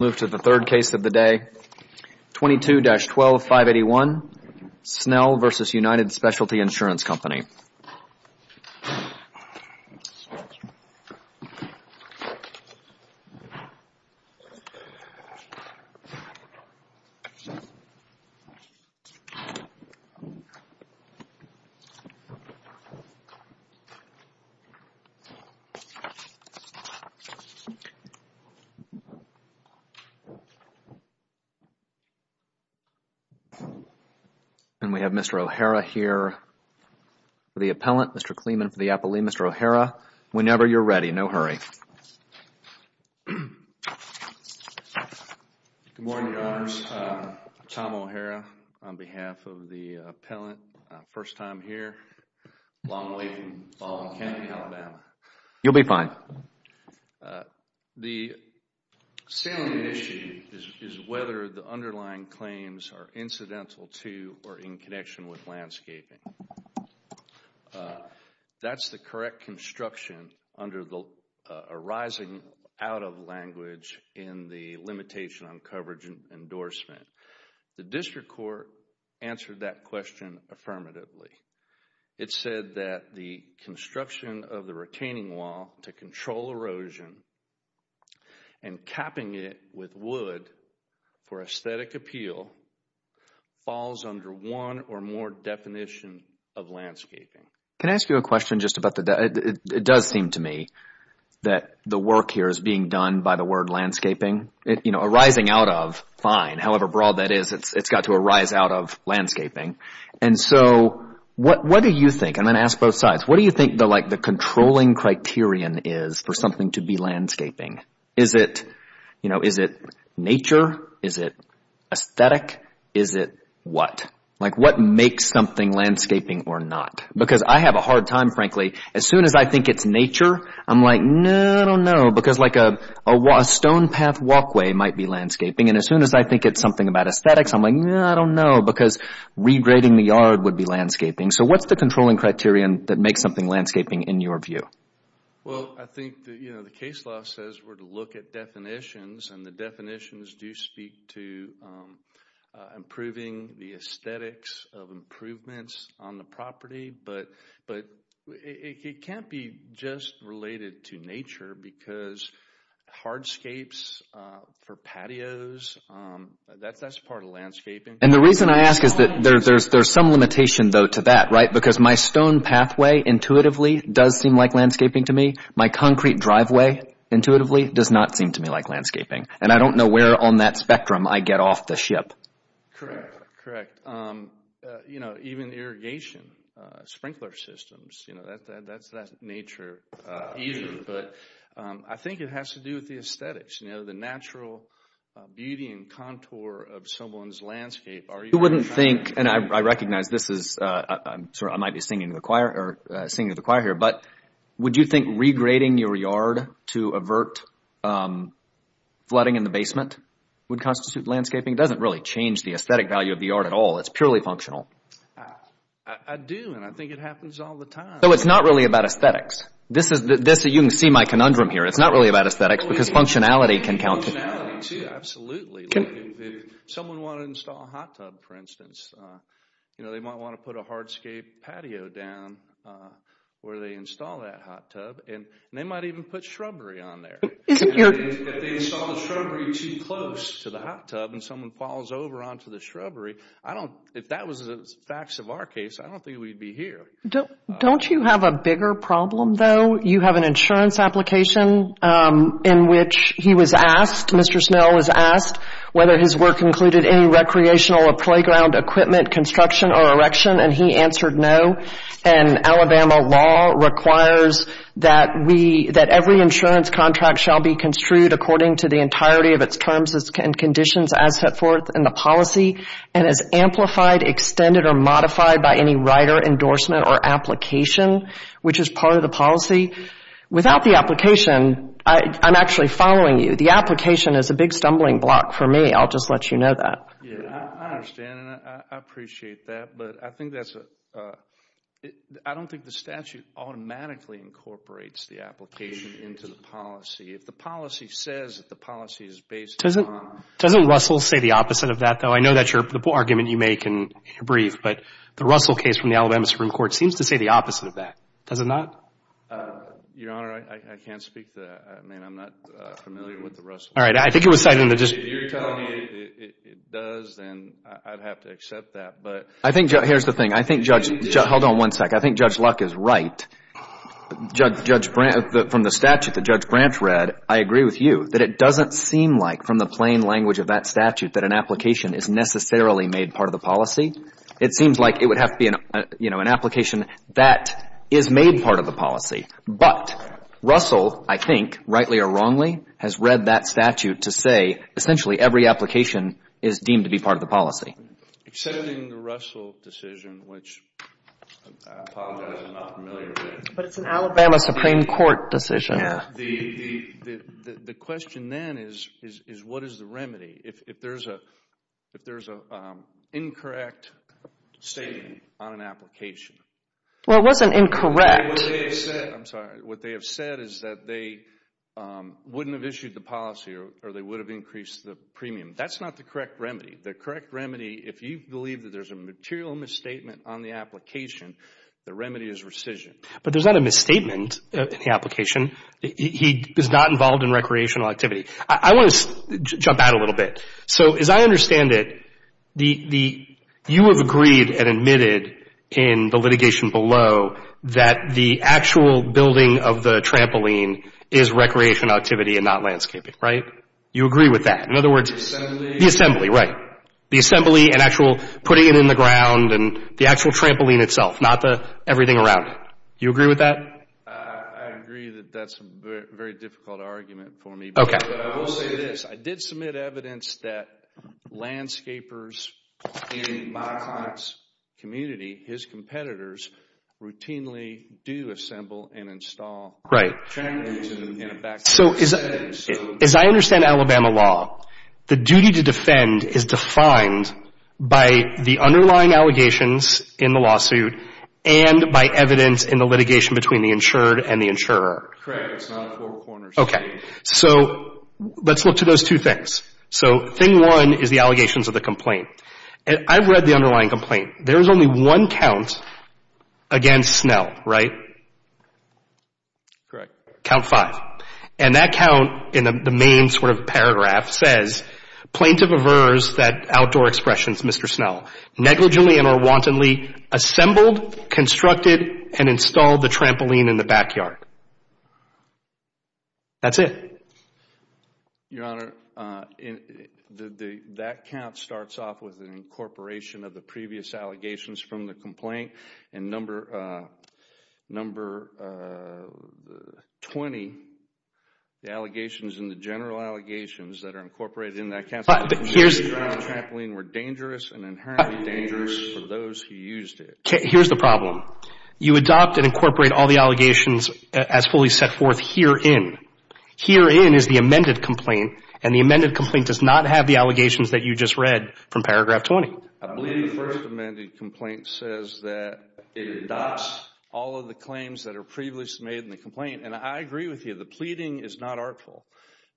of the day, 22-12581, Snell v. United Specialty Insurance Company. And we have Mr. O'Hara here for the appellant, Mr. Kleeman for the appellee. Mr. O'Hara, whenever you're ready, no hurry. Good morning, Your Honors. Tom O'Hara on behalf of the appellant. First time here, long way from Baltimore County, Alabama. You'll be fine. The salient issue is whether the underlying claims are incidental to or in connection with landscaping. That's the correct construction under the arising out of language in the limitation on coverage endorsement. The district court answered that question affirmatively. It said that the construction of the retaining wall to control erosion and capping it with wood for aesthetic appeal falls under one or more definitions of landscaping. Can I ask you a question just about the, it does seem to me that the work here is being done by the word landscaping, you know, arising out of, fine, however broad that is, it's got to arise out of landscaping. And so, what do you think, I'm going to ask both sides, what do you think the controlling criterion is for something to be landscaping? Is it, you know, is it nature? Is it aesthetic? Is it what? Like, what makes something landscaping or not? Because I have a hard time, frankly, as soon as I think it's nature, I'm like, no, I don't know, because like a stone path walkway might be landscaping, and as soon as I think it's something about aesthetics, I'm like, no, I don't know, because regrading the yard would be landscaping. So, what's the controlling criterion that makes something landscaping in your view? Well, I think, you know, the case law says we're to look at definitions, and the definitions do speak to improving the aesthetics of improvements on the property, but it can't be just related to nature, because hardscapes for patios, that's part of landscaping. And the reason I ask is that there's some limitation, though, to that, right? Because my stone pathway, intuitively, does seem like landscaping to me. My concrete driveway, intuitively, does not seem to me like landscaping. And I don't know where on that spectrum I get off the ship. Correct. Correct. And, you know, even irrigation, sprinkler systems, you know, that's nature, but I think it has to do with the aesthetics, you know, the natural beauty and contour of someone's landscape. You wouldn't think, and I recognize this is, I might be singing to the choir here, but would you think regrading your yard to avert flooding in the basement would constitute landscaping? It doesn't really change the aesthetic value of the yard at all. It's purely functional. I do, and I think it happens all the time. So it's not really about aesthetics. This is, you can see my conundrum here. It's not really about aesthetics, because functionality can count. Functionality, too, absolutely. If someone wanted to install a hot tub, for instance, you know, they might want to put a hardscape patio down where they install that hot tub, and they might even put shrubbery on there. If they install the shrubbery too close to the hot tub and someone falls over onto the ground, if that was the facts of our case, I don't think we'd be here. Don't you have a bigger problem, though? You have an insurance application in which he was asked, Mr. Snell was asked whether his work included any recreational or playground equipment, construction or erection, and he answered no, and Alabama law requires that every insurance contract shall be construed according to the entirety of its terms and conditions as set forth in the policy, and as amplified, extended, or modified by any rider endorsement or application, which is part of the policy. Without the application, I'm actually following you. The application is a big stumbling block for me. I'll just let you know that. Yeah, I understand, and I appreciate that, but I think that's a, I don't think the statute automatically incorporates the application into the policy. If the policy says that the policy is based on... Doesn't Russell say the opposite of that, though? I know that's the argument you make in your brief, but the Russell case from the Alabama Supreme Court seems to say the opposite of that. Does it not? Your Honor, I can't speak to that. I mean, I'm not familiar with the Russell case. All right. I think it was cited in the... If you're telling me it does, then I'd have to accept that, but... I think, here's the thing. I think Judge... Hold on one second. I think Judge Luck is right. From the statute that Judge Branch read, I agree with you, that it doesn't seem like from the plain language of that statute that an application is necessarily made part of the policy. It seems like it would have to be an application that is made part of the policy, but Russell, I think, rightly or wrongly, has read that statute to say, essentially, every application is deemed to be part of the policy. Except in the Russell decision, which, I apologize, I'm not familiar with it. But it's an Alabama Supreme Court decision. Yeah. The question, then, is, what is the remedy if there's an incorrect statement on an application? Well, it wasn't incorrect. I mean, what they have said, I'm sorry, what they have said is that they wouldn't have issued the policy or they would have increased the premium. That's not the correct remedy. The correct remedy, if you believe that there's a material misstatement on the application, the remedy is rescission. But there's not a misstatement in the application. He is not involved in recreational activity. I want to jump out a little bit. So as I understand it, you have agreed and admitted in the litigation below that the actual building of the trampoline is recreational activity and not landscaping, right? You agree with that? In other words, the assembly, right. The assembly and actual putting it in the ground and the actual trampoline itself, not the everything around it. You agree with that? I agree that that's a very difficult argument for me. Okay. But I will say this. I did submit evidence that landscapers in my client's community, his competitors, routinely do assemble and install trampolines in a backcountry setting. So as I understand Alabama law, the duty to defend is defined by the underlying allegations in the lawsuit and by evidence in the litigation between the insured and the insurer. Correct. It's not a four-corner statement. Okay. So let's look to those two things. So thing one is the allegations of the complaint. I've read the underlying complaint. There is only one count against Snell, right? Correct. Count five. And that count in the main sort of paragraph says, Plaintiff averse that outdoor expressions Mr. Snell, negligently and or wantonly assembled, constructed, and installed the trampoline in the backyard. That's it. Your Honor, that count starts off with an incorporation of the previous allegations from the complaint. And number 20, the allegations and the general allegations that are incorporated in that Here's the problem. You adopt and incorporate all the allegations as fully set forth herein. Herein is the amended complaint, and the amended complaint does not have the allegations that you just read from paragraph 20. I believe the first amended complaint says that it adopts all of the claims that are previously made in the complaint. And I agree with you. The pleading is not artful.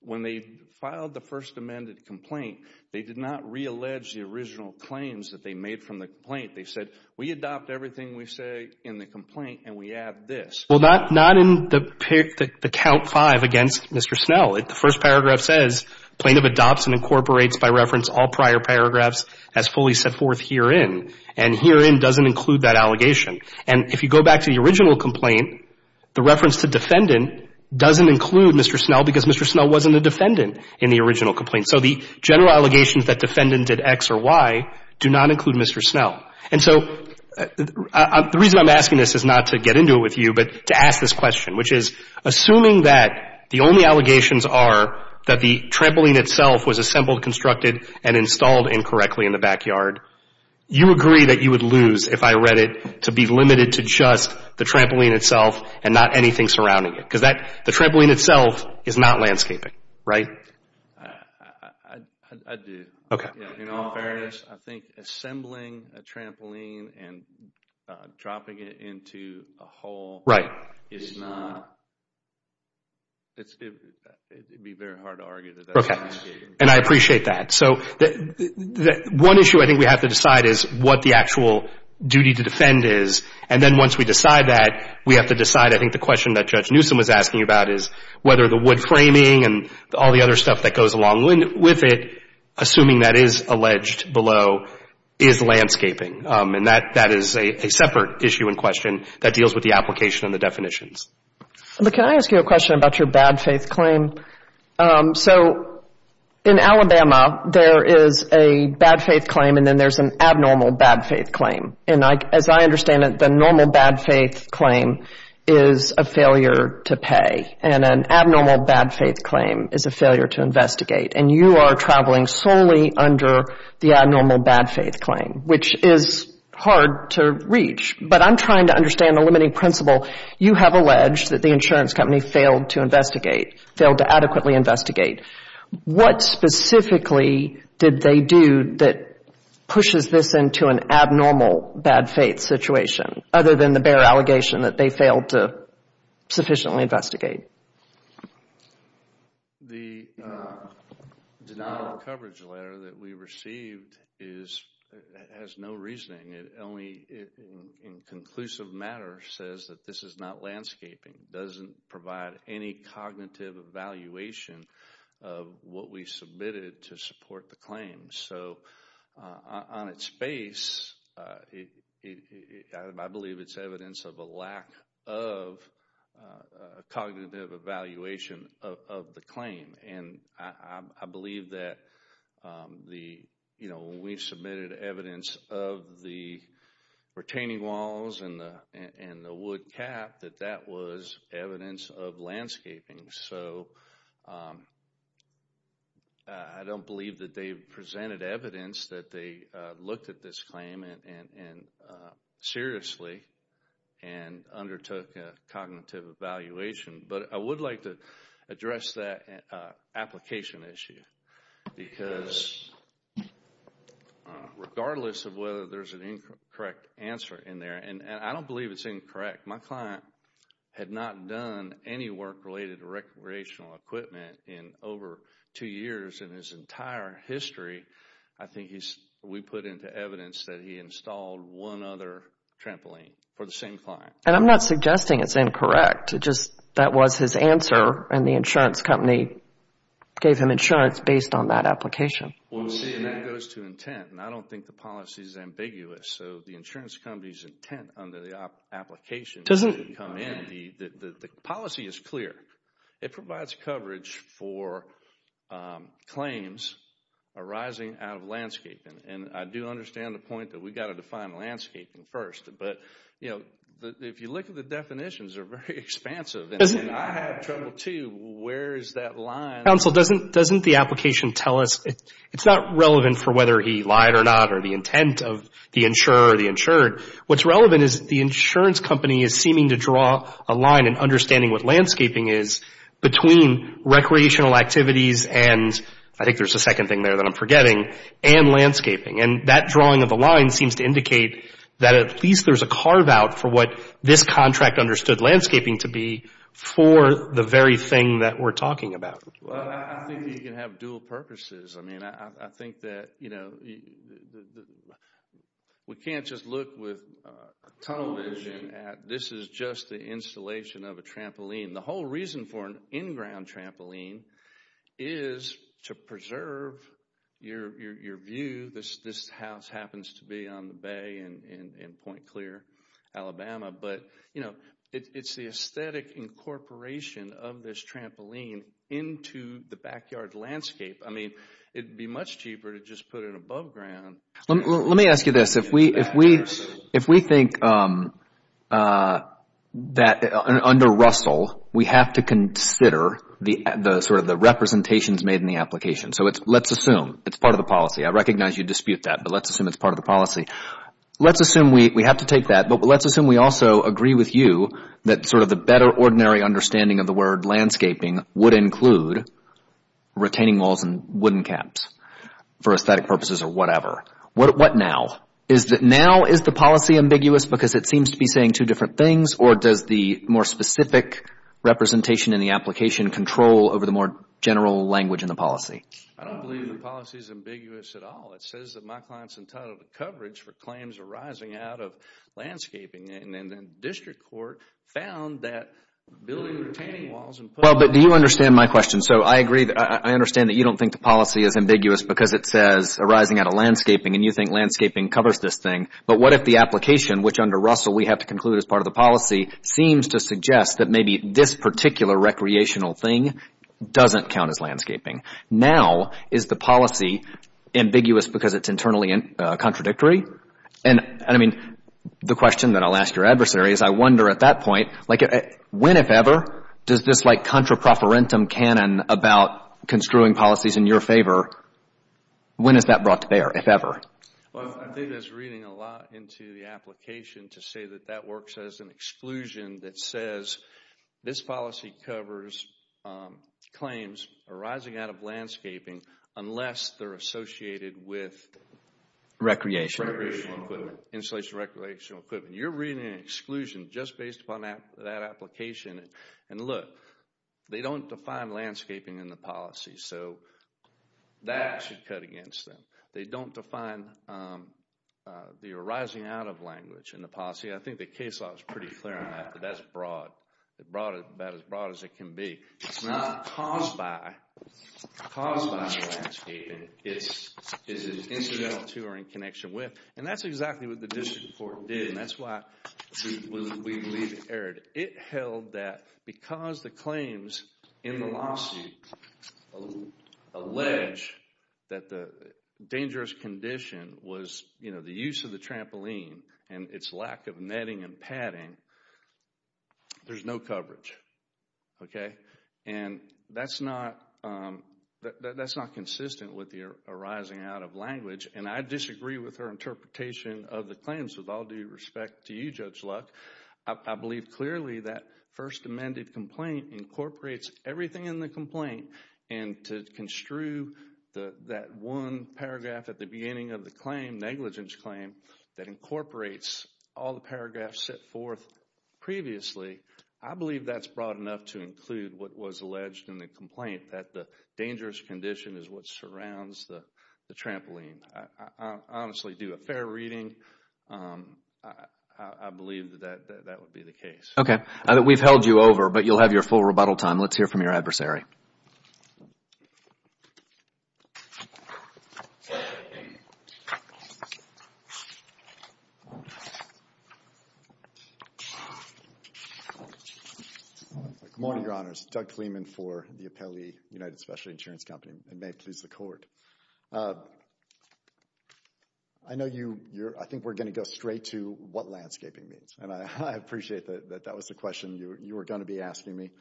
When they filed the first amended complaint, they did not reallege the original claims that they made from the complaint. They said, we adopt everything we say in the complaint, and we add this. Well, not in the count five against Mr. Snell. The first paragraph says, Plaintiff adopts and incorporates by reference all prior paragraphs as fully set forth herein. And herein doesn't include that allegation. And if you go back to the original complaint, the reference to defendant doesn't include Mr. Snell, because Mr. Snell wasn't a defendant in the original complaint. So the general allegations that defendant did X or Y do not include Mr. Snell. And so the reason I'm asking this is not to get into it with you, but to ask this question, which is, assuming that the only allegations are that the trampoline itself was assembled, constructed, and installed incorrectly in the backyard, you agree that you would lose, if I read it, to be limited to just the trampoline itself and not anything surrounding it? Because the trampoline itself is not landscaping, right? I do. Okay. In all fairness, I think assembling a trampoline and dropping it into a hole is not... Right. It would be very hard to argue that that's landscaping. Okay. And I appreciate that. So one issue I think we have to decide is what the actual duty to defend is. And then once we decide that, we have to decide, I think the question that Judge Newsom was asking about is whether the wood framing and all the other stuff that goes along with it, assuming that is alleged below, is landscaping. And that is a separate issue in question that deals with the application and the definitions. But can I ask you a question about your bad faith claim? So in Alabama, there is a bad faith claim, and then there's an abnormal bad faith claim. And as I understand it, the normal bad faith claim is a failure to pay. And an abnormal bad faith claim is a failure to investigate. And you are traveling solely under the abnormal bad faith claim, which is hard to reach. But I'm trying to understand the limiting principle. You have alleged that the insurance company failed to investigate, failed to adequately investigate. What specifically did they do that pushes this into an abnormal bad faith situation, other than the bare allegation that they failed to sufficiently investigate? The denial of coverage letter that we received has no reasoning. It only, in conclusive matter, says that this is not landscaping. Doesn't provide any cognitive evaluation of what we submitted to support the claim. So on its face, I believe it's evidence of a lack of cognitive evaluation of the claim. And I believe that when we submitted evidence of the retaining walls and the wood cap, that that was evidence of landscaping. So I don't believe that they presented evidence that they looked at this claim and seriously and undertook a cognitive evaluation. But I would like to address that application issue. Because regardless of whether there's an incorrect answer in there, and I don't believe it's incorrect. My client had not done any work related to recreational equipment in over two years in his entire history. I think we put into evidence that he installed one other trampoline for the same client. And I'm not suggesting it's incorrect. It's just that was his answer and the insurance company gave him insurance based on that application. Well, see, and that goes to intent. And I don't think the policy is ambiguous. So the insurance company's intent under the application doesn't come in. The policy is clear. It provides coverage for claims arising out of landscaping. And I do understand the point that we've got to define landscaping first. But, you know, if you look at the definitions, they're very expansive. And I have trouble too, where is that line? Counsel, doesn't the application tell us, it's not relevant for whether he lied or not to the intent of the insurer or the insured. What's relevant is the insurance company is seeming to draw a line in understanding what landscaping is between recreational activities and, I think there's a second thing there that I'm forgetting, and landscaping. And that drawing of the line seems to indicate that at least there's a carve-out for what this contract understood landscaping to be for the very thing that we're talking about. Well, I think that you can have dual purposes. I mean, I think that, you know, we can't just look with a tunnel vision at, this is just the installation of a trampoline. The whole reason for an in-ground trampoline is to preserve your view. This house happens to be on the bay in Point Clear, Alabama. But, you know, it's the aesthetic incorporation of this trampoline into the backyard landscape. I mean, it'd be much cheaper to just put it above ground. Let me ask you this. If we think that under Russell, we have to consider the sort of the representations made in the application. So let's assume, it's part of the policy. I recognize you dispute that, but let's assume it's part of the policy. Let's assume we have to take that, but let's assume we also agree with you that sort of the better ordinary understanding of the word landscaping would include retaining walls and wooden caps for aesthetic purposes or whatever. What now? Is that now, is the policy ambiguous because it seems to be saying two different things or does the more specific representation in the application control over the more general language in the policy? I don't believe the policy is ambiguous at all. It says that my client's entitled to coverage for claims arising out of landscaping. And the district court found that building retaining walls and putting. Well, but do you understand my question? So I agree, I understand that you don't think the policy is ambiguous because it says arising out of landscaping and you think landscaping covers this thing. But what if the application, which under Russell we have to conclude is part of the policy, seems to suggest that maybe this particular recreational thing doesn't count as landscaping? Now, is the policy ambiguous because it's internally contradictory? And I mean, the question that I'll ask your adversary is I wonder at that point, when, if ever, does this like contraproferentum canon about construing policies in your favor, when is that brought to bear, if ever? Well, I think it's reading a lot into the application to say that that works as an exclusion that says this policy covers claims arising out of landscaping unless they're associated with Recreational equipment. Insulation recreational equipment. You're reading an exclusion just based upon that application. And look, they don't define landscaping in the policy, so that should cut against them. They don't define the arising out of language in the policy. I think the case law is pretty clear on that, that that's broad. It's about as broad as it can be. It's not caused by landscaping, it's incidental to or in connection with. And that's exactly what the district court did, and that's why we believe it erred. It held that because the claims in the lawsuit allege that the dangerous condition was, you know, the use of the trampoline and its lack of netting and padding, there's no coverage. Okay? And that's not consistent with the arising out of language. And I disagree with her interpretation of the claims, with all due respect to you, Judge Luck. I believe clearly that first amended complaint incorporates everything in the complaint, and to construe that one paragraph at the beginning of the claim, negligence claim, that incorporates all the paragraphs set forth previously, I believe that's broad enough to include what was alleged in the complaint, that the dangerous condition is what surrounds the trampoline. I honestly do a fair reading. I believe that that would be the case. Okay. We've held you over, but you'll have your full rebuttal time. Let's hear from your adversary. Good morning, Your Honors. Doug Kleeman for the Appellee United Specialty Insurance Company, and may it please the Court. I know you, I think we're going to go straight to what landscaping means, and I appreciate that that was the question you were going to be asking me.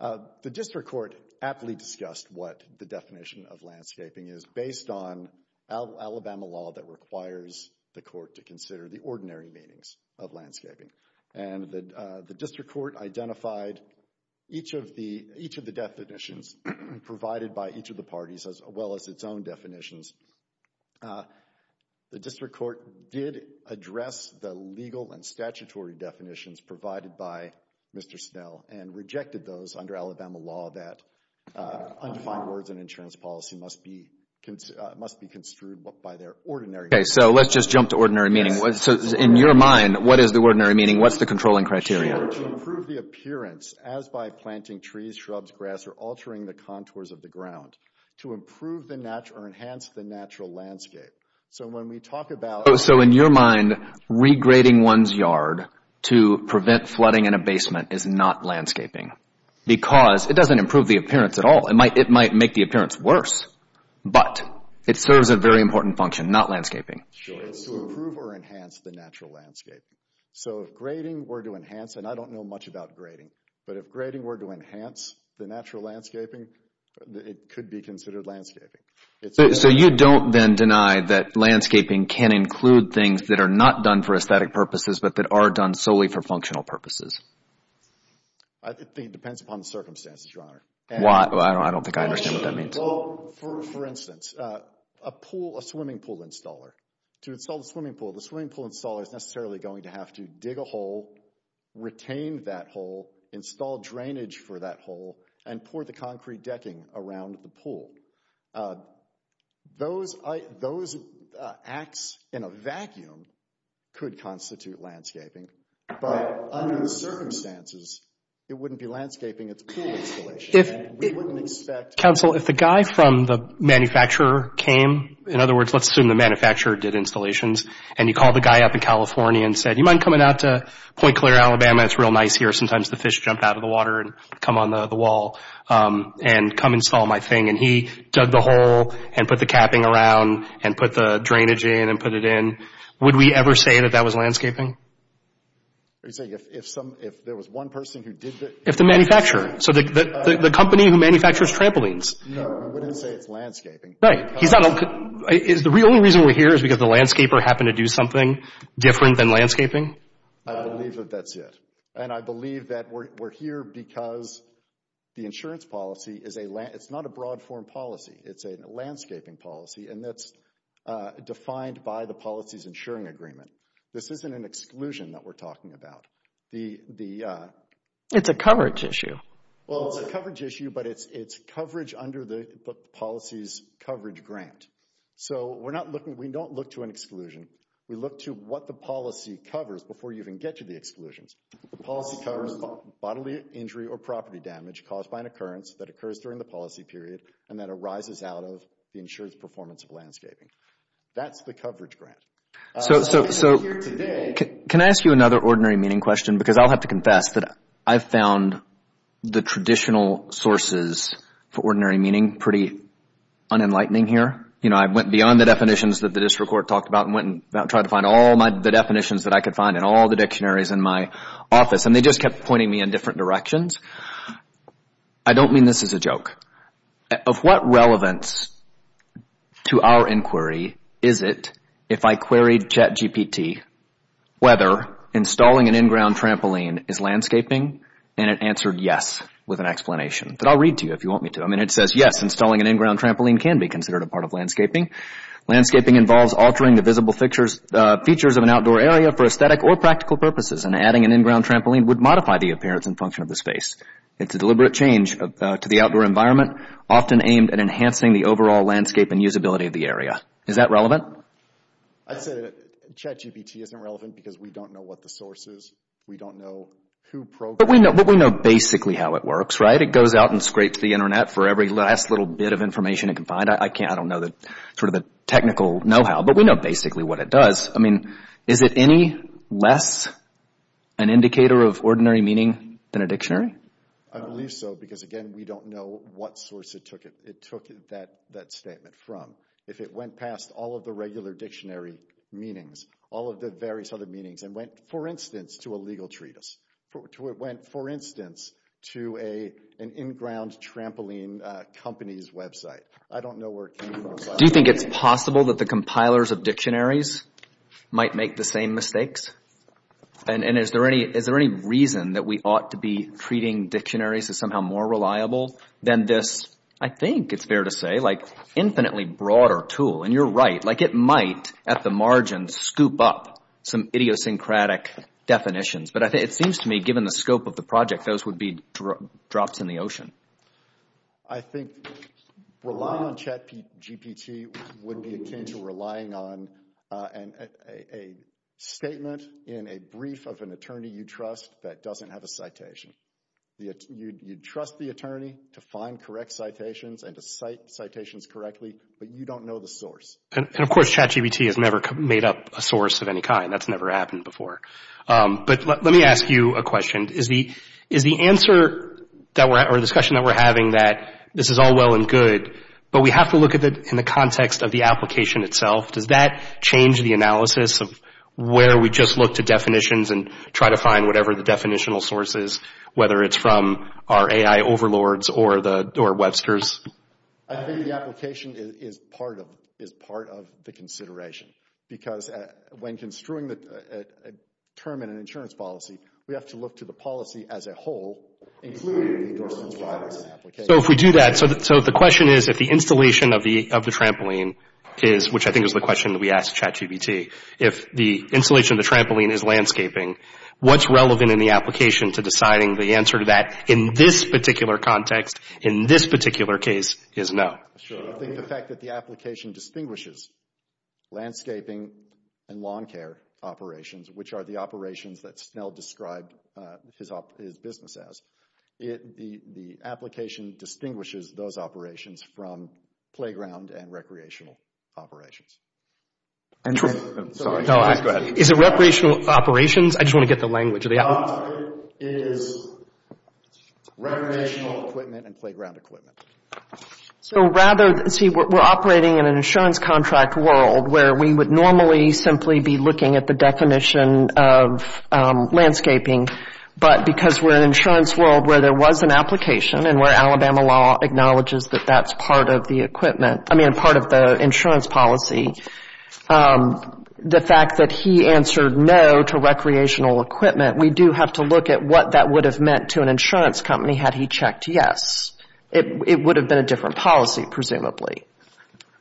The District Court aptly discussed what the definition of landscaping is based on Alabama law that requires the Court to consider the ordinary meanings of landscaping. And the District Court identified each of the definitions provided by each of the parties as well as its own definitions. The District Court did address the legal and statutory definitions provided by Mr. Snell and rejected those under Alabama law that undefined words in insurance policy must be construed by their ordinary meaning. Okay. So let's just jump to ordinary meaning. So in your mind, what is the ordinary meaning? What's the controlling criteria? Sure. To improve the appearance, as by planting trees, shrubs, grass, or altering the contours of the ground, to improve or enhance the natural landscape. So when we talk about... So in your mind, regrading one's yard to prevent flooding in a basement is not landscaping because it doesn't improve the appearance at all. It might make the appearance worse, but it serves a very important function, not landscaping. Sure. It's to improve or enhance the natural landscape. So if grading were to enhance, and I don't know much about grading, but if grading were to enhance the natural landscaping, it could be considered landscaping. So you don't then deny that landscaping can include things that are not done for aesthetic purposes, but that are done solely for functional purposes? I think it depends upon the circumstances, Your Honor. Why? I don't think I understand what that means. Well, for instance, a pool, a swimming pool installer, to install the swimming pool, the swimming pool installer is necessarily going to have to dig a hole, retain that hole, install drainage for that hole, and pour the concrete decking around the pool. Those acts in a vacuum could constitute landscaping, but under the circumstances, it wouldn't be landscaping at the pool installation, and we wouldn't expect... Counsel, if the guy from the manufacturer came, in other words, let's assume the manufacturer did installations, and you call the guy up in California and said, you mind coming out to Point Clear, Alabama? It's real nice here. Sometimes the fish jump out of the water and come on the wall, and come install my thing, and he dug the hole, and put the capping around, and put the drainage in, and put it in. Would we ever say that that was landscaping? You're saying if there was one person who did the... If the manufacturer. So the company who manufactures trampolines. No, we wouldn't say it's landscaping. Right. He's not... The only reason we're here is because the landscaper happened to do something different than landscaping? I believe that that's it. And I believe that we're here because the insurance policy is a... It's not a broad form policy. It's a landscaping policy, and that's defined by the policies insuring agreement. This isn't an exclusion that we're talking about. It's a coverage issue. Well, it's a coverage issue, but it's coverage under the policies coverage grant. We don't look to an exclusion. We look to what the policy covers before you even get to the exclusions. The policy covers bodily injury or property damage caused by an occurrence that occurs during the policy period, and that arises out of the insured's performance of landscaping. That's the coverage grant. So we're here today... Can I ask you another ordinary meaning question? Because I'll have to confess that I've found the traditional sources for ordinary meaning pretty unenlightening here. I went beyond the definitions that the district court talked about and went and tried to find all the definitions that I could find in all the dictionaries in my office, and they just kept pointing me in different directions. I don't mean this as a joke. Of what relevance to our inquiry is it, if I queried JetGPT, whether installing an in-ground trampoline is landscaping? And it answered yes with an explanation that I'll read to you if you want me to. It says, yes, installing an in-ground trampoline can be considered a part of landscaping. Landscaping involves altering the visible features of an outdoor area for aesthetic or practical purposes, and adding an in-ground trampoline would modify the appearance and function of the space. It's a deliberate change to the outdoor environment, often aimed at enhancing the overall landscape and usability of the area. Is that relevant? I'd say that JetGPT isn't relevant because we don't know what the source is. We don't know who programmed it. But we know basically how it works, right? It goes out and scrapes the internet for every last little bit of information it can find. I don't know sort of the technical know-how, but we know basically what it does. I mean, is it any less an indicator of ordinary meaning than a dictionary? I believe so because, again, we don't know what source it took that statement from. If it went past all of the regular dictionary meanings, all of the various other meanings, and went, for instance, to a legal treatise, went, for instance, to an in-ground trampoline company's website, I don't know where it came from. Do you think it's possible that the compilers of dictionaries might make the same mistakes? And is there any reason that we ought to be treating dictionaries as somehow more reliable than this, I think it's fair to say, infinitely broader tool? And you're right, like it might, at the margin, scoop up some idiosyncratic definitions. But it seems to me, given the scope of the project, those would be drops in the ocean. I think relying on GPT would be akin to relying on a statement in a brief of an attorney you trust that doesn't have a citation. You trust the attorney to find correct citations and to cite citations correctly, but you don't know the source. And of course, CHAT-GBT has never made up a source of any kind. That's never happened before. But let me ask you a question. Is the answer or discussion that we're having that this is all well and good, but we have to look at it in the context of the application itself, does that change the analysis of where we just look to definitions and try to find whatever the definitional source is, whether it's from our AI overlords or Webster's? I think the application is part of the consideration. Because when construing a term in an insurance policy, we have to look to the policy as a whole, including the endorsement of the application. So if we do that, so the question is, if the installation of the trampoline is, which I think is the question that we asked CHAT-GBT, if the installation of the trampoline is landscaping, what's relevant in the application to deciding the answer to that in this particular context, in this particular case, is no. I think the fact that the application distinguishes landscaping and lawn care operations, which are the operations that Snell described his business as, the application distinguishes those operations from playground and recreational operations. Is it recreational operations? I just want to get the language. Lawn care is recreational equipment and playground equipment. So rather, see, we're operating in an insurance contract world where we would normally simply be looking at the definition of landscaping, but because we're in an insurance world where there was an application and where Alabama law acknowledges that that's part of the equipment, I mean, part of the insurance policy, the fact that he answered no to recreational equipment we do have to look at what that would have meant to an insurance company had he checked yes. It would have been a different policy, presumably.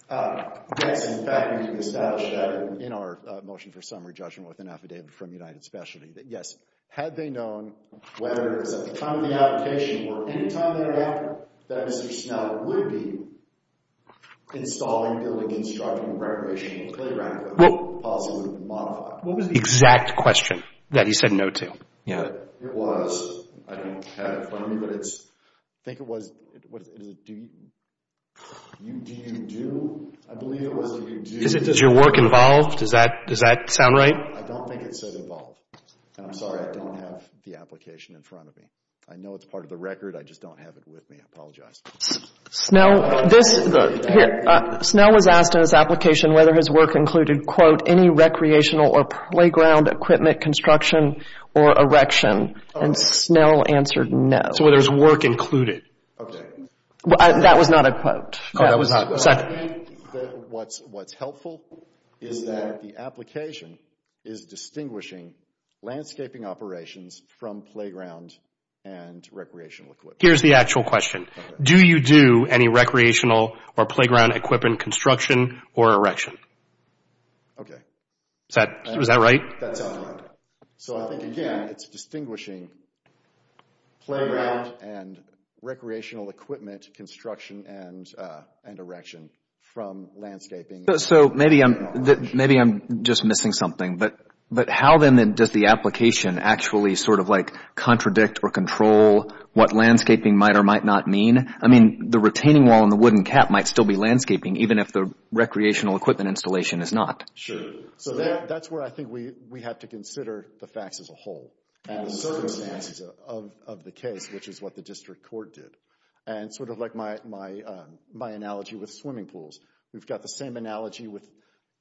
Yes. In fact, we established that in our motion for summary judgment with an affidavit from United Specialty, that yes, had they known whether it was at the time of the application or any time thereafter, that Mr. Snell would be installing, building, constructing, recreational playground equipment, the policy would have been modified. What was the exact question that he said no to? It was, I don't have it in front of me, but I think it was, do you do, I believe it was, do you do... Is your work involved? Does that sound right? I don't think it said involved. I'm sorry, I don't have the application in front of me. I know it's part of the record, I just don't have it with me, I apologize. Snell, this, here, Snell was asked in his application whether his work included, quote, any recreational or playground equipment construction or erection, and Snell answered no. So whether his work included. Okay. That was not a quote. That was not. I think that what's helpful is that the application is distinguishing landscaping operations from playground and recreational equipment. Here's the actual question. Do you do any recreational or playground equipment construction or erection? Okay. Was that right? That sounds right. So I think, again, it's distinguishing playground and recreational equipment construction and erection from landscaping. So maybe I'm just missing something, but how then does the application actually sort of like contradict or control what landscaping might or might not mean? I mean, the retaining wall and the wooden cap might still be landscaping even if the recreational equipment installation is not. Sure. So that's where I think we have to consider the facts as a whole and the circumstances of the case, which is what the district court did. And sort of like my analogy with swimming pools, we've got the same analogy with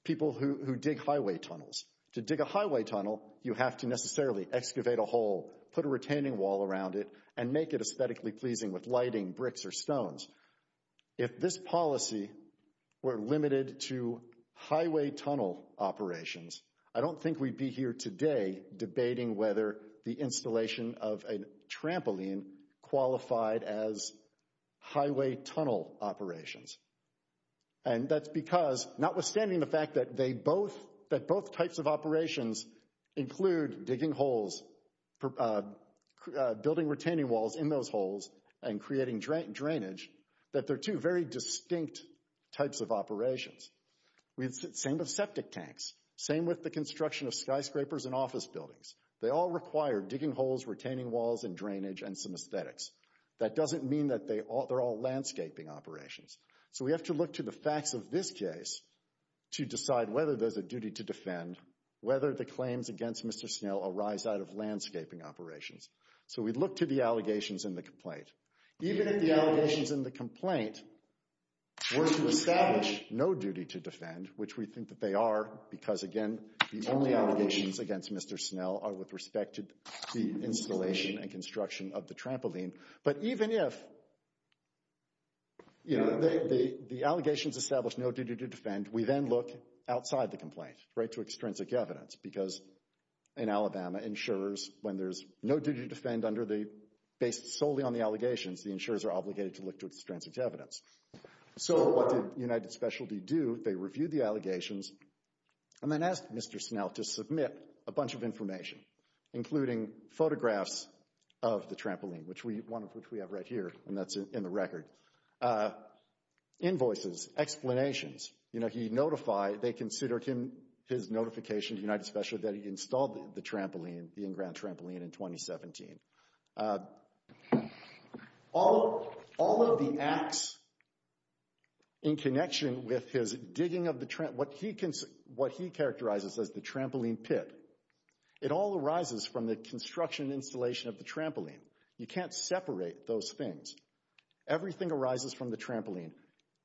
people who dig highway tunnels. To dig a highway tunnel, you have to necessarily excavate a hole, put a retaining wall around it, and make it aesthetically pleasing with lighting, bricks, or stones. If this policy were limited to highway tunnel operations, I don't think we'd be here today debating whether the installation of a trampoline qualified as highway tunnel operations. And that's because, notwithstanding the fact that both types of operations include digging holes, building retaining walls in those holes, and creating drainage, that they're two very distinct types of operations. Same with septic tanks. Same with the construction of skyscrapers and office buildings. They all require digging holes, retaining walls, and drainage, and some aesthetics. That doesn't mean that they're all landscaping operations. So we have to look to the facts of this case to decide whether there's a duty to defend, whether the claims against Mr. Snell arise out of landscaping operations. So we'd look to the allegations in the complaint. Even if the allegations in the complaint were to establish no duty to defend, which we think that they are, because again, the only allegations against Mr. Snell are with respect to the construction of the trampoline. But even if, you know, the allegations establish no duty to defend, we then look outside the complaint, right, to extrinsic evidence. Because in Alabama, insurers, when there's no duty to defend under the, based solely on the allegations, the insurers are obligated to look to extrinsic evidence. So what did United Specialty do? They reviewed the allegations and then asked Mr. Snell to submit a bunch of information, including photographs of the trampoline, which we have right here, and that's in the record. Invoices, explanations, you know, he notified, they considered him, his notification to United Specialty that he installed the trampoline, the in-ground trampoline in 2017. All of the acts in connection with his digging of the, what he characterizes as the trampoline pit, it all arises from the construction and installation of the trampoline. You can't separate those things. Everything arises from the trampoline.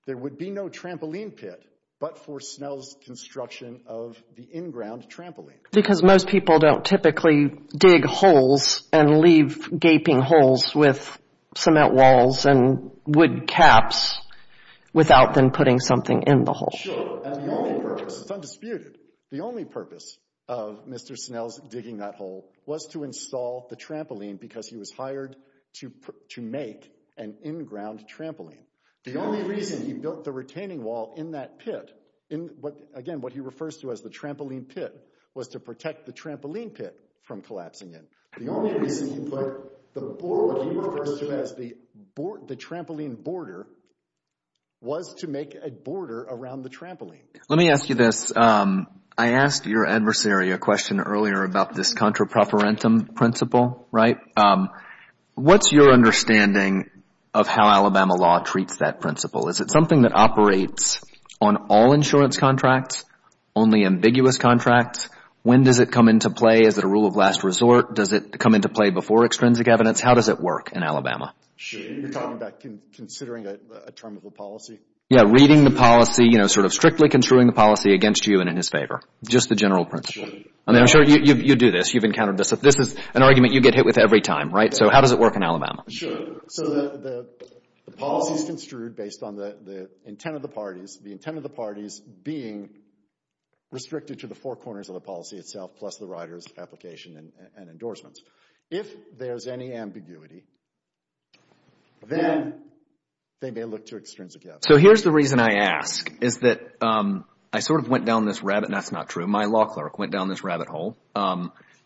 There would be no trampoline pit but for Snell's construction of the in-ground trampoline. Because most people don't typically dig holes and leave gaping holes with cement walls and wood caps without then putting something in the hole. Sure, and the only purpose, it's undisputed. The only purpose of Mr. Snell's digging that hole was to install the trampoline because he was hired to make an in-ground trampoline. The only reason he built the retaining wall in that pit, again, what he refers to as the trampoline pit, was to protect the trampoline pit from collapsing in. The only reason he put what he refers to as the trampoline border was to make a border around the trampoline. Let me ask you this. I asked your adversary a question earlier about this contra-preferentum principle, right? What's your understanding of how Alabama law treats that principle? Is it something that operates on all insurance contracts, only ambiguous contracts? When does it come into play? Is it a rule of last resort? Does it come into play before extrinsic evidence? How does it work in Alabama? You're talking about considering a term of a policy? Yeah, reading the policy, you know, sort of strictly construing the policy against you and in his favor. Just the general principle. I'm sure you do this. You've encountered this. This is an argument you get hit with every time, right? So how does it work in Alabama? Sure. So the policy is construed based on the intent of the parties, the intent of the parties being restricted to the four corners of the policy itself, plus the rider's application and endorsements. If there's any ambiguity, then they may look to extrinsic evidence. So here's the reason I ask, is that I sort of went down this rabbit, that's not true, my law clerk went down this rabbit hole,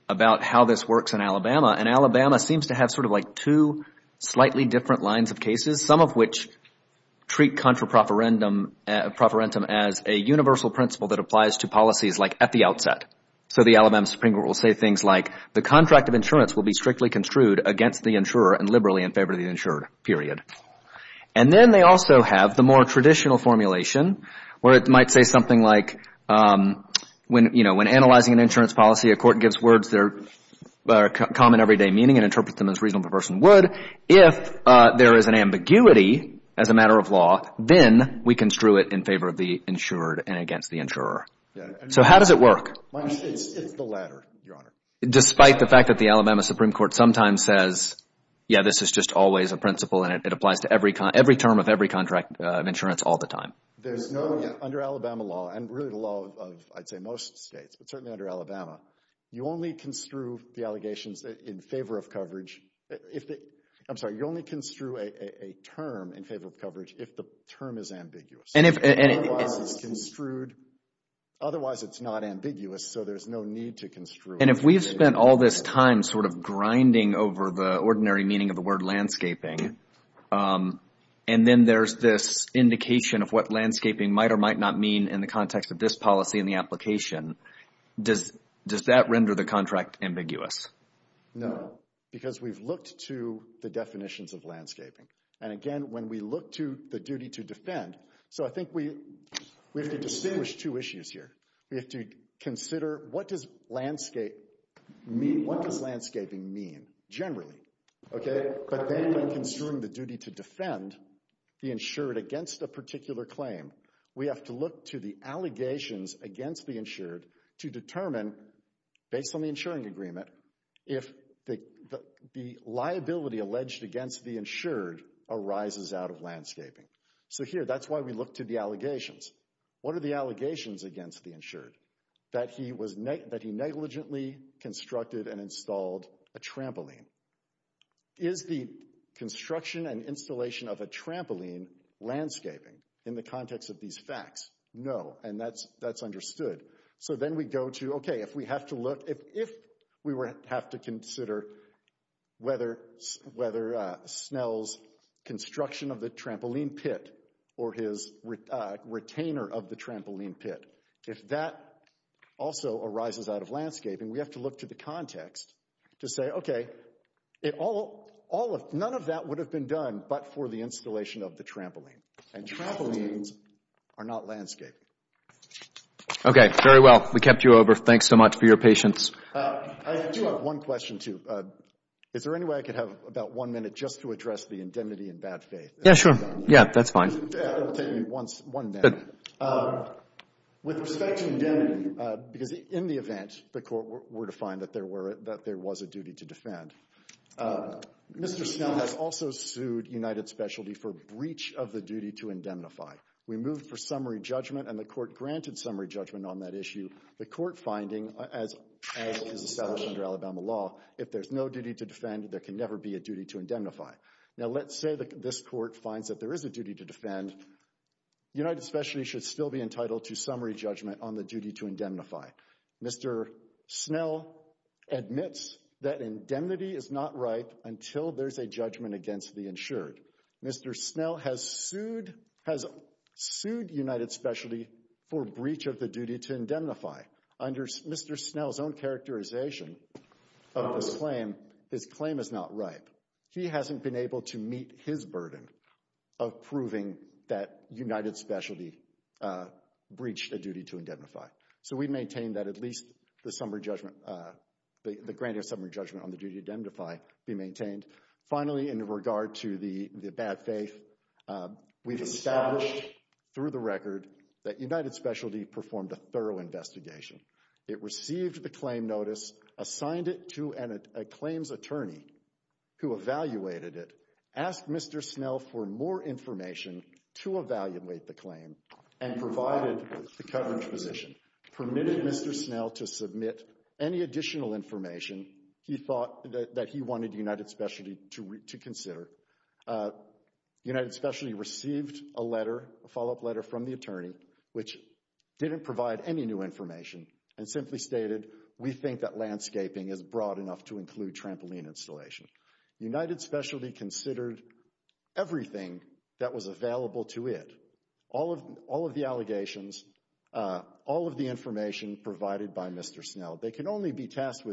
about how this works in Alabama, and Alabama seems to have sort of like two slightly different lines of cases, some of which treat contra profferendum as a universal principle that applies to policies like at the outset. So the Alabama Supreme Court will say things like, the contract of insurance will be strictly construed against the insurer and liberally in favor of the insured, period. And then they also have the more traditional formulation, where it might say something like when analyzing an insurance policy, a court gives words that are common everyday meaning and interprets them as reasonable person would, if there is an ambiguity as a matter of law, then we construe it in favor of the insured and against the insurer. So how does it work? It's the latter, Your Honor. Despite the fact that the Alabama Supreme Court sometimes says, yeah, this is just always a principle and it applies to every term of every contract of insurance all the time. There's no, under Alabama law, and really the law of, I'd say, most states, but certainly under Alabama, you only construe the allegations in favor of coverage, I'm sorry, you only construe a term in favor of coverage if the term is ambiguous, otherwise it's not ambiguous, so there's no need to construe it. And if we've spent all this time sort of grinding over the ordinary meaning of the word landscaping, and then there's this indication of what landscaping might or might not mean in the context of this policy and the application, does that render the contract ambiguous? No, because we've looked to the definitions of landscaping, and again, when we look to the duty to defend, so I think we have to distinguish two issues here. We have to consider what does landscaping mean, generally, okay, but then we have to consider the duty to defend the insured against a particular claim, we have to look to the allegations against the insured to determine, based on the insuring agreement, if the liability alleged against the insured arises out of landscaping. So here, that's why we look to the allegations. What are the allegations against the insured? That he negligently constructed and installed a trampoline. Is the construction and installation of a trampoline landscaping in the context of these facts? No, and that's understood. So then we go to, okay, if we have to look, if we have to consider whether Snell's construction of the trampoline pit or his retainer of the trampoline pit, if that also arises out of it, none of that would have been done but for the installation of the trampoline, and trampolines are not landscaping. Okay, very well, we kept you over. Thanks so much for your patience. I do have one question, too. Is there any way I could have about one minute just to address the indemnity and bad faith? Yeah, sure. Yeah, that's fine. That'll take me one minute. With respect to indemnity, because in the event the court were to find that there was a duty to defend, Mr. Snell has also sued United Specialty for breach of the duty to indemnify. We moved for summary judgment, and the court granted summary judgment on that issue. The court finding, as is established under Alabama law, if there's no duty to defend, there can never be a duty to indemnify. Now let's say this court finds that there is a duty to defend, United Specialty should still be entitled to summary judgment on the duty to indemnify. Mr. Snell admits that indemnity is not right until there's a judgment against the insured. Mr. Snell has sued United Specialty for breach of the duty to indemnify. Under Mr. Snell's own characterization of his claim, his claim is not right. He hasn't been able to meet his burden of proving that United Specialty breached a duty to indemnify. So we maintain that at least the granting of summary judgment on the duty to indemnify be maintained. Finally, in regard to the bad faith, we've established through the record that United Specialty performed a thorough investigation. It received the claim notice, assigned it to a claims attorney who evaluated it, asked Mr. Snell for more information to evaluate the claim, and provided the covering position. Permitted Mr. Snell to submit any additional information he thought that he wanted United Specialty to consider. United Specialty received a letter, a follow-up letter from the attorney, which didn't provide any new information, and simply stated, we think that landscaping is broad enough to include trampoline installation. United Specialty considered everything that was available to it. All of the allegations, all of the information provided by Mr. Snell. They can only be tasked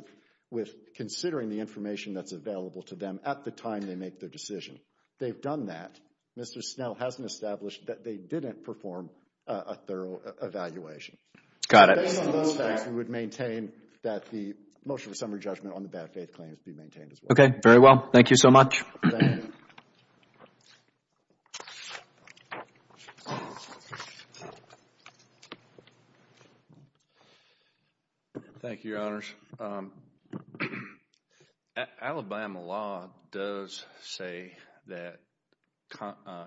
with considering the information that's available to them at the time they make their decision. They've done that. Mr. Snell hasn't established that they didn't perform a thorough evaluation. Got it. We would maintain that the motion of summary judgment on the bad faith claims be maintained Okay. Very well. Thank you so much. Thank you, Your Honors. Alabama law does say that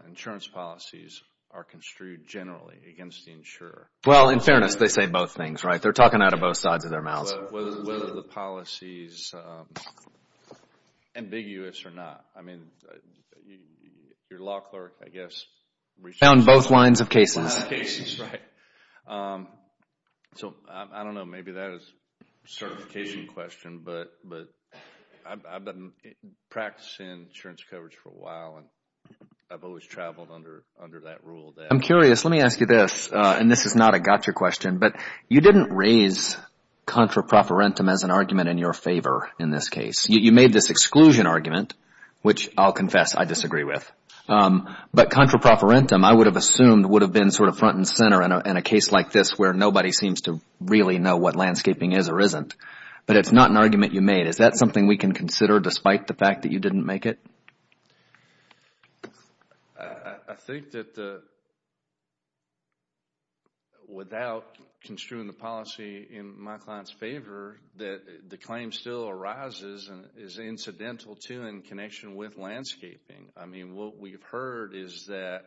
insurance policies are construed generally against the insurer. Well, in fairness, they say both things, right? They're talking out of both sides of their mouths. But whether the policy is ambiguous or not, I mean, your law clerk, I guess, Found both lines of cases. So, I don't know. Maybe that is a certification question, but I've been practicing insurance coverage for a while, and I've always traveled under that rule. I'm curious. Let me ask you this, and this is not a gotcha question. But you didn't raise contraproferentum as an argument in your favor in this case. You made this exclusion argument, which I'll confess I disagree with. But contraproferentum, I would have assumed, would have been front and center in a case like this where nobody seems to really know what landscaping is or isn't. But it's not an argument you made. Is that something we can consider despite the fact that you didn't make it? I think that without construing the policy in my client's favor, that the claim still arises and is incidental, too, in connection with landscaping. I mean, what we've heard is that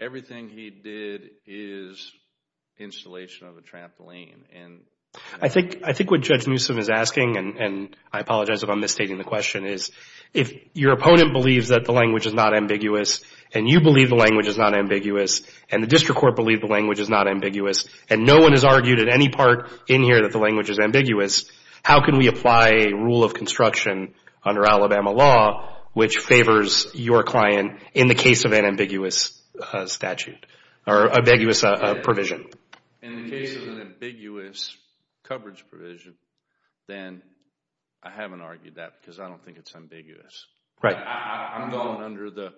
everything he did is installation of a trampoline. I think what Judge Newsom is asking, and I apologize if I'm misstating the question, is if your opponent believes that the language is not ambiguous, and you believe the language is not ambiguous, and the district court believes the language is not ambiguous, and no one has argued at any part in here that the language is ambiguous, how can we apply a rule of construction under Alabama law which favors your client in the case of an ambiguous statute or ambiguous provision? In the case of an ambiguous coverage provision, then I haven't argued that because I don't think it's ambiguous. I'm going under the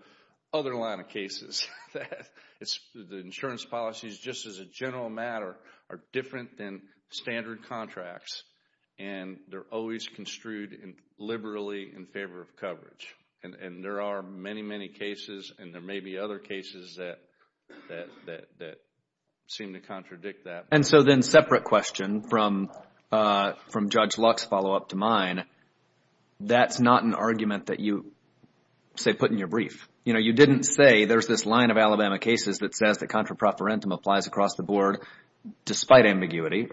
other line of cases. The insurance policies, just as a general matter, are different than standard contracts, and they're always construed liberally in favor of coverage. And there are many, many cases, and there may be other cases that seem to contradict that. And so then separate question from Judge Luck's follow-up to mine, that's not an argument that you, say, put in your brief. You know, you didn't say there's this line of Alabama cases that says that contraproferentum applies across the board despite ambiguity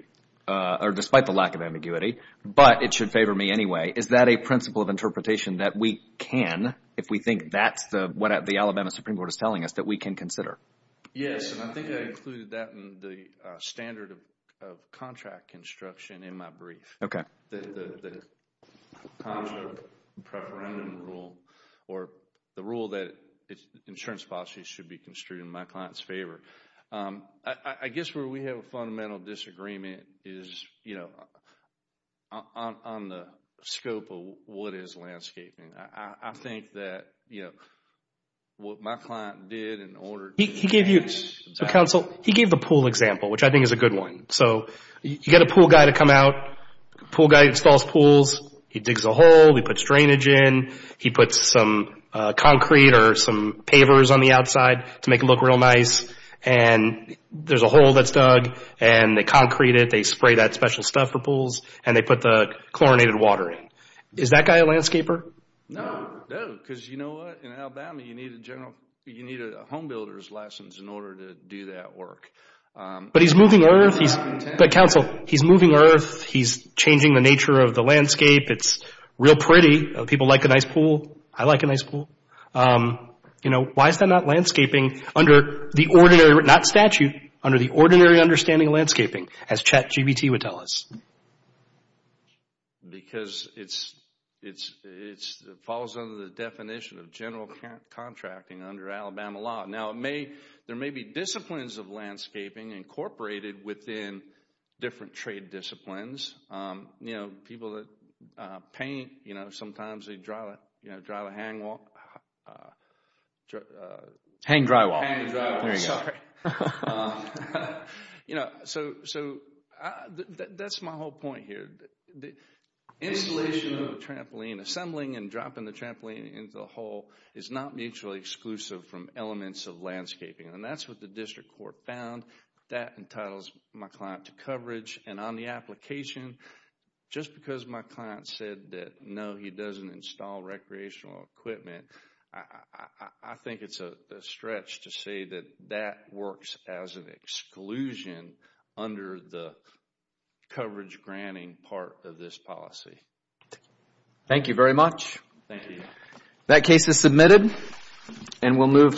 or despite the lack of ambiguity, but it should favor me anyway. Is that a principle of interpretation that we can, if we think that's what the Alabama Supreme Court is telling us, that we can consider? Yes, and I think I included that in the standard of contract construction in my brief. Okay. The contrapreferendum rule or the rule that insurance policies should be construed in my client's favor. I guess where we have a fundamental disagreement is, you know, on the scope of what is landscaping. I think that, you know, what my client did in order to – He gave you – so, counsel, he gave the pool example, which I think is a good one. So you get a pool guy to come out. Pool guy installs pools. He digs a hole. He puts drainage in. He puts some concrete or some pavers on the outside to make it look real nice. And there's a hole that's dug, and they concrete it. They spray that special stuff for pools, and they put the chlorinated water in. Is that guy a landscaper? No. No, because you know what? In Alabama, you need a general – you need a home builder's license in order to do that work. But he's moving earth. But, counsel, he's moving earth. He's changing the nature of the landscape. It's real pretty. People like a nice pool. I like a nice pool. You know, why is that not landscaping under the ordinary – not statute – under the ordinary understanding of landscaping, as Chet GBT would tell us? Because it's – it falls under the definition of general contracting under Alabama law. Now, it may – there may be disciplines of landscaping incorporated within different trade disciplines. You know, people that paint, you know, sometimes they drive a hangwall – hang drywall. Hang drywall. Sorry. You know, so that's my whole point here. The installation of a trampoline, assembling and dropping the trampoline into the hole, is not mutually exclusive from elements of landscaping. And that's what the district court found. That entitles my client to coverage. And on the application, just because my client said that, no, he doesn't install recreational equipment, I think it's a stretch to say that that works as an exclusion under the coverage granting part of this policy. Thank you very much. Thank you. That case is submitted, and we'll move to the next.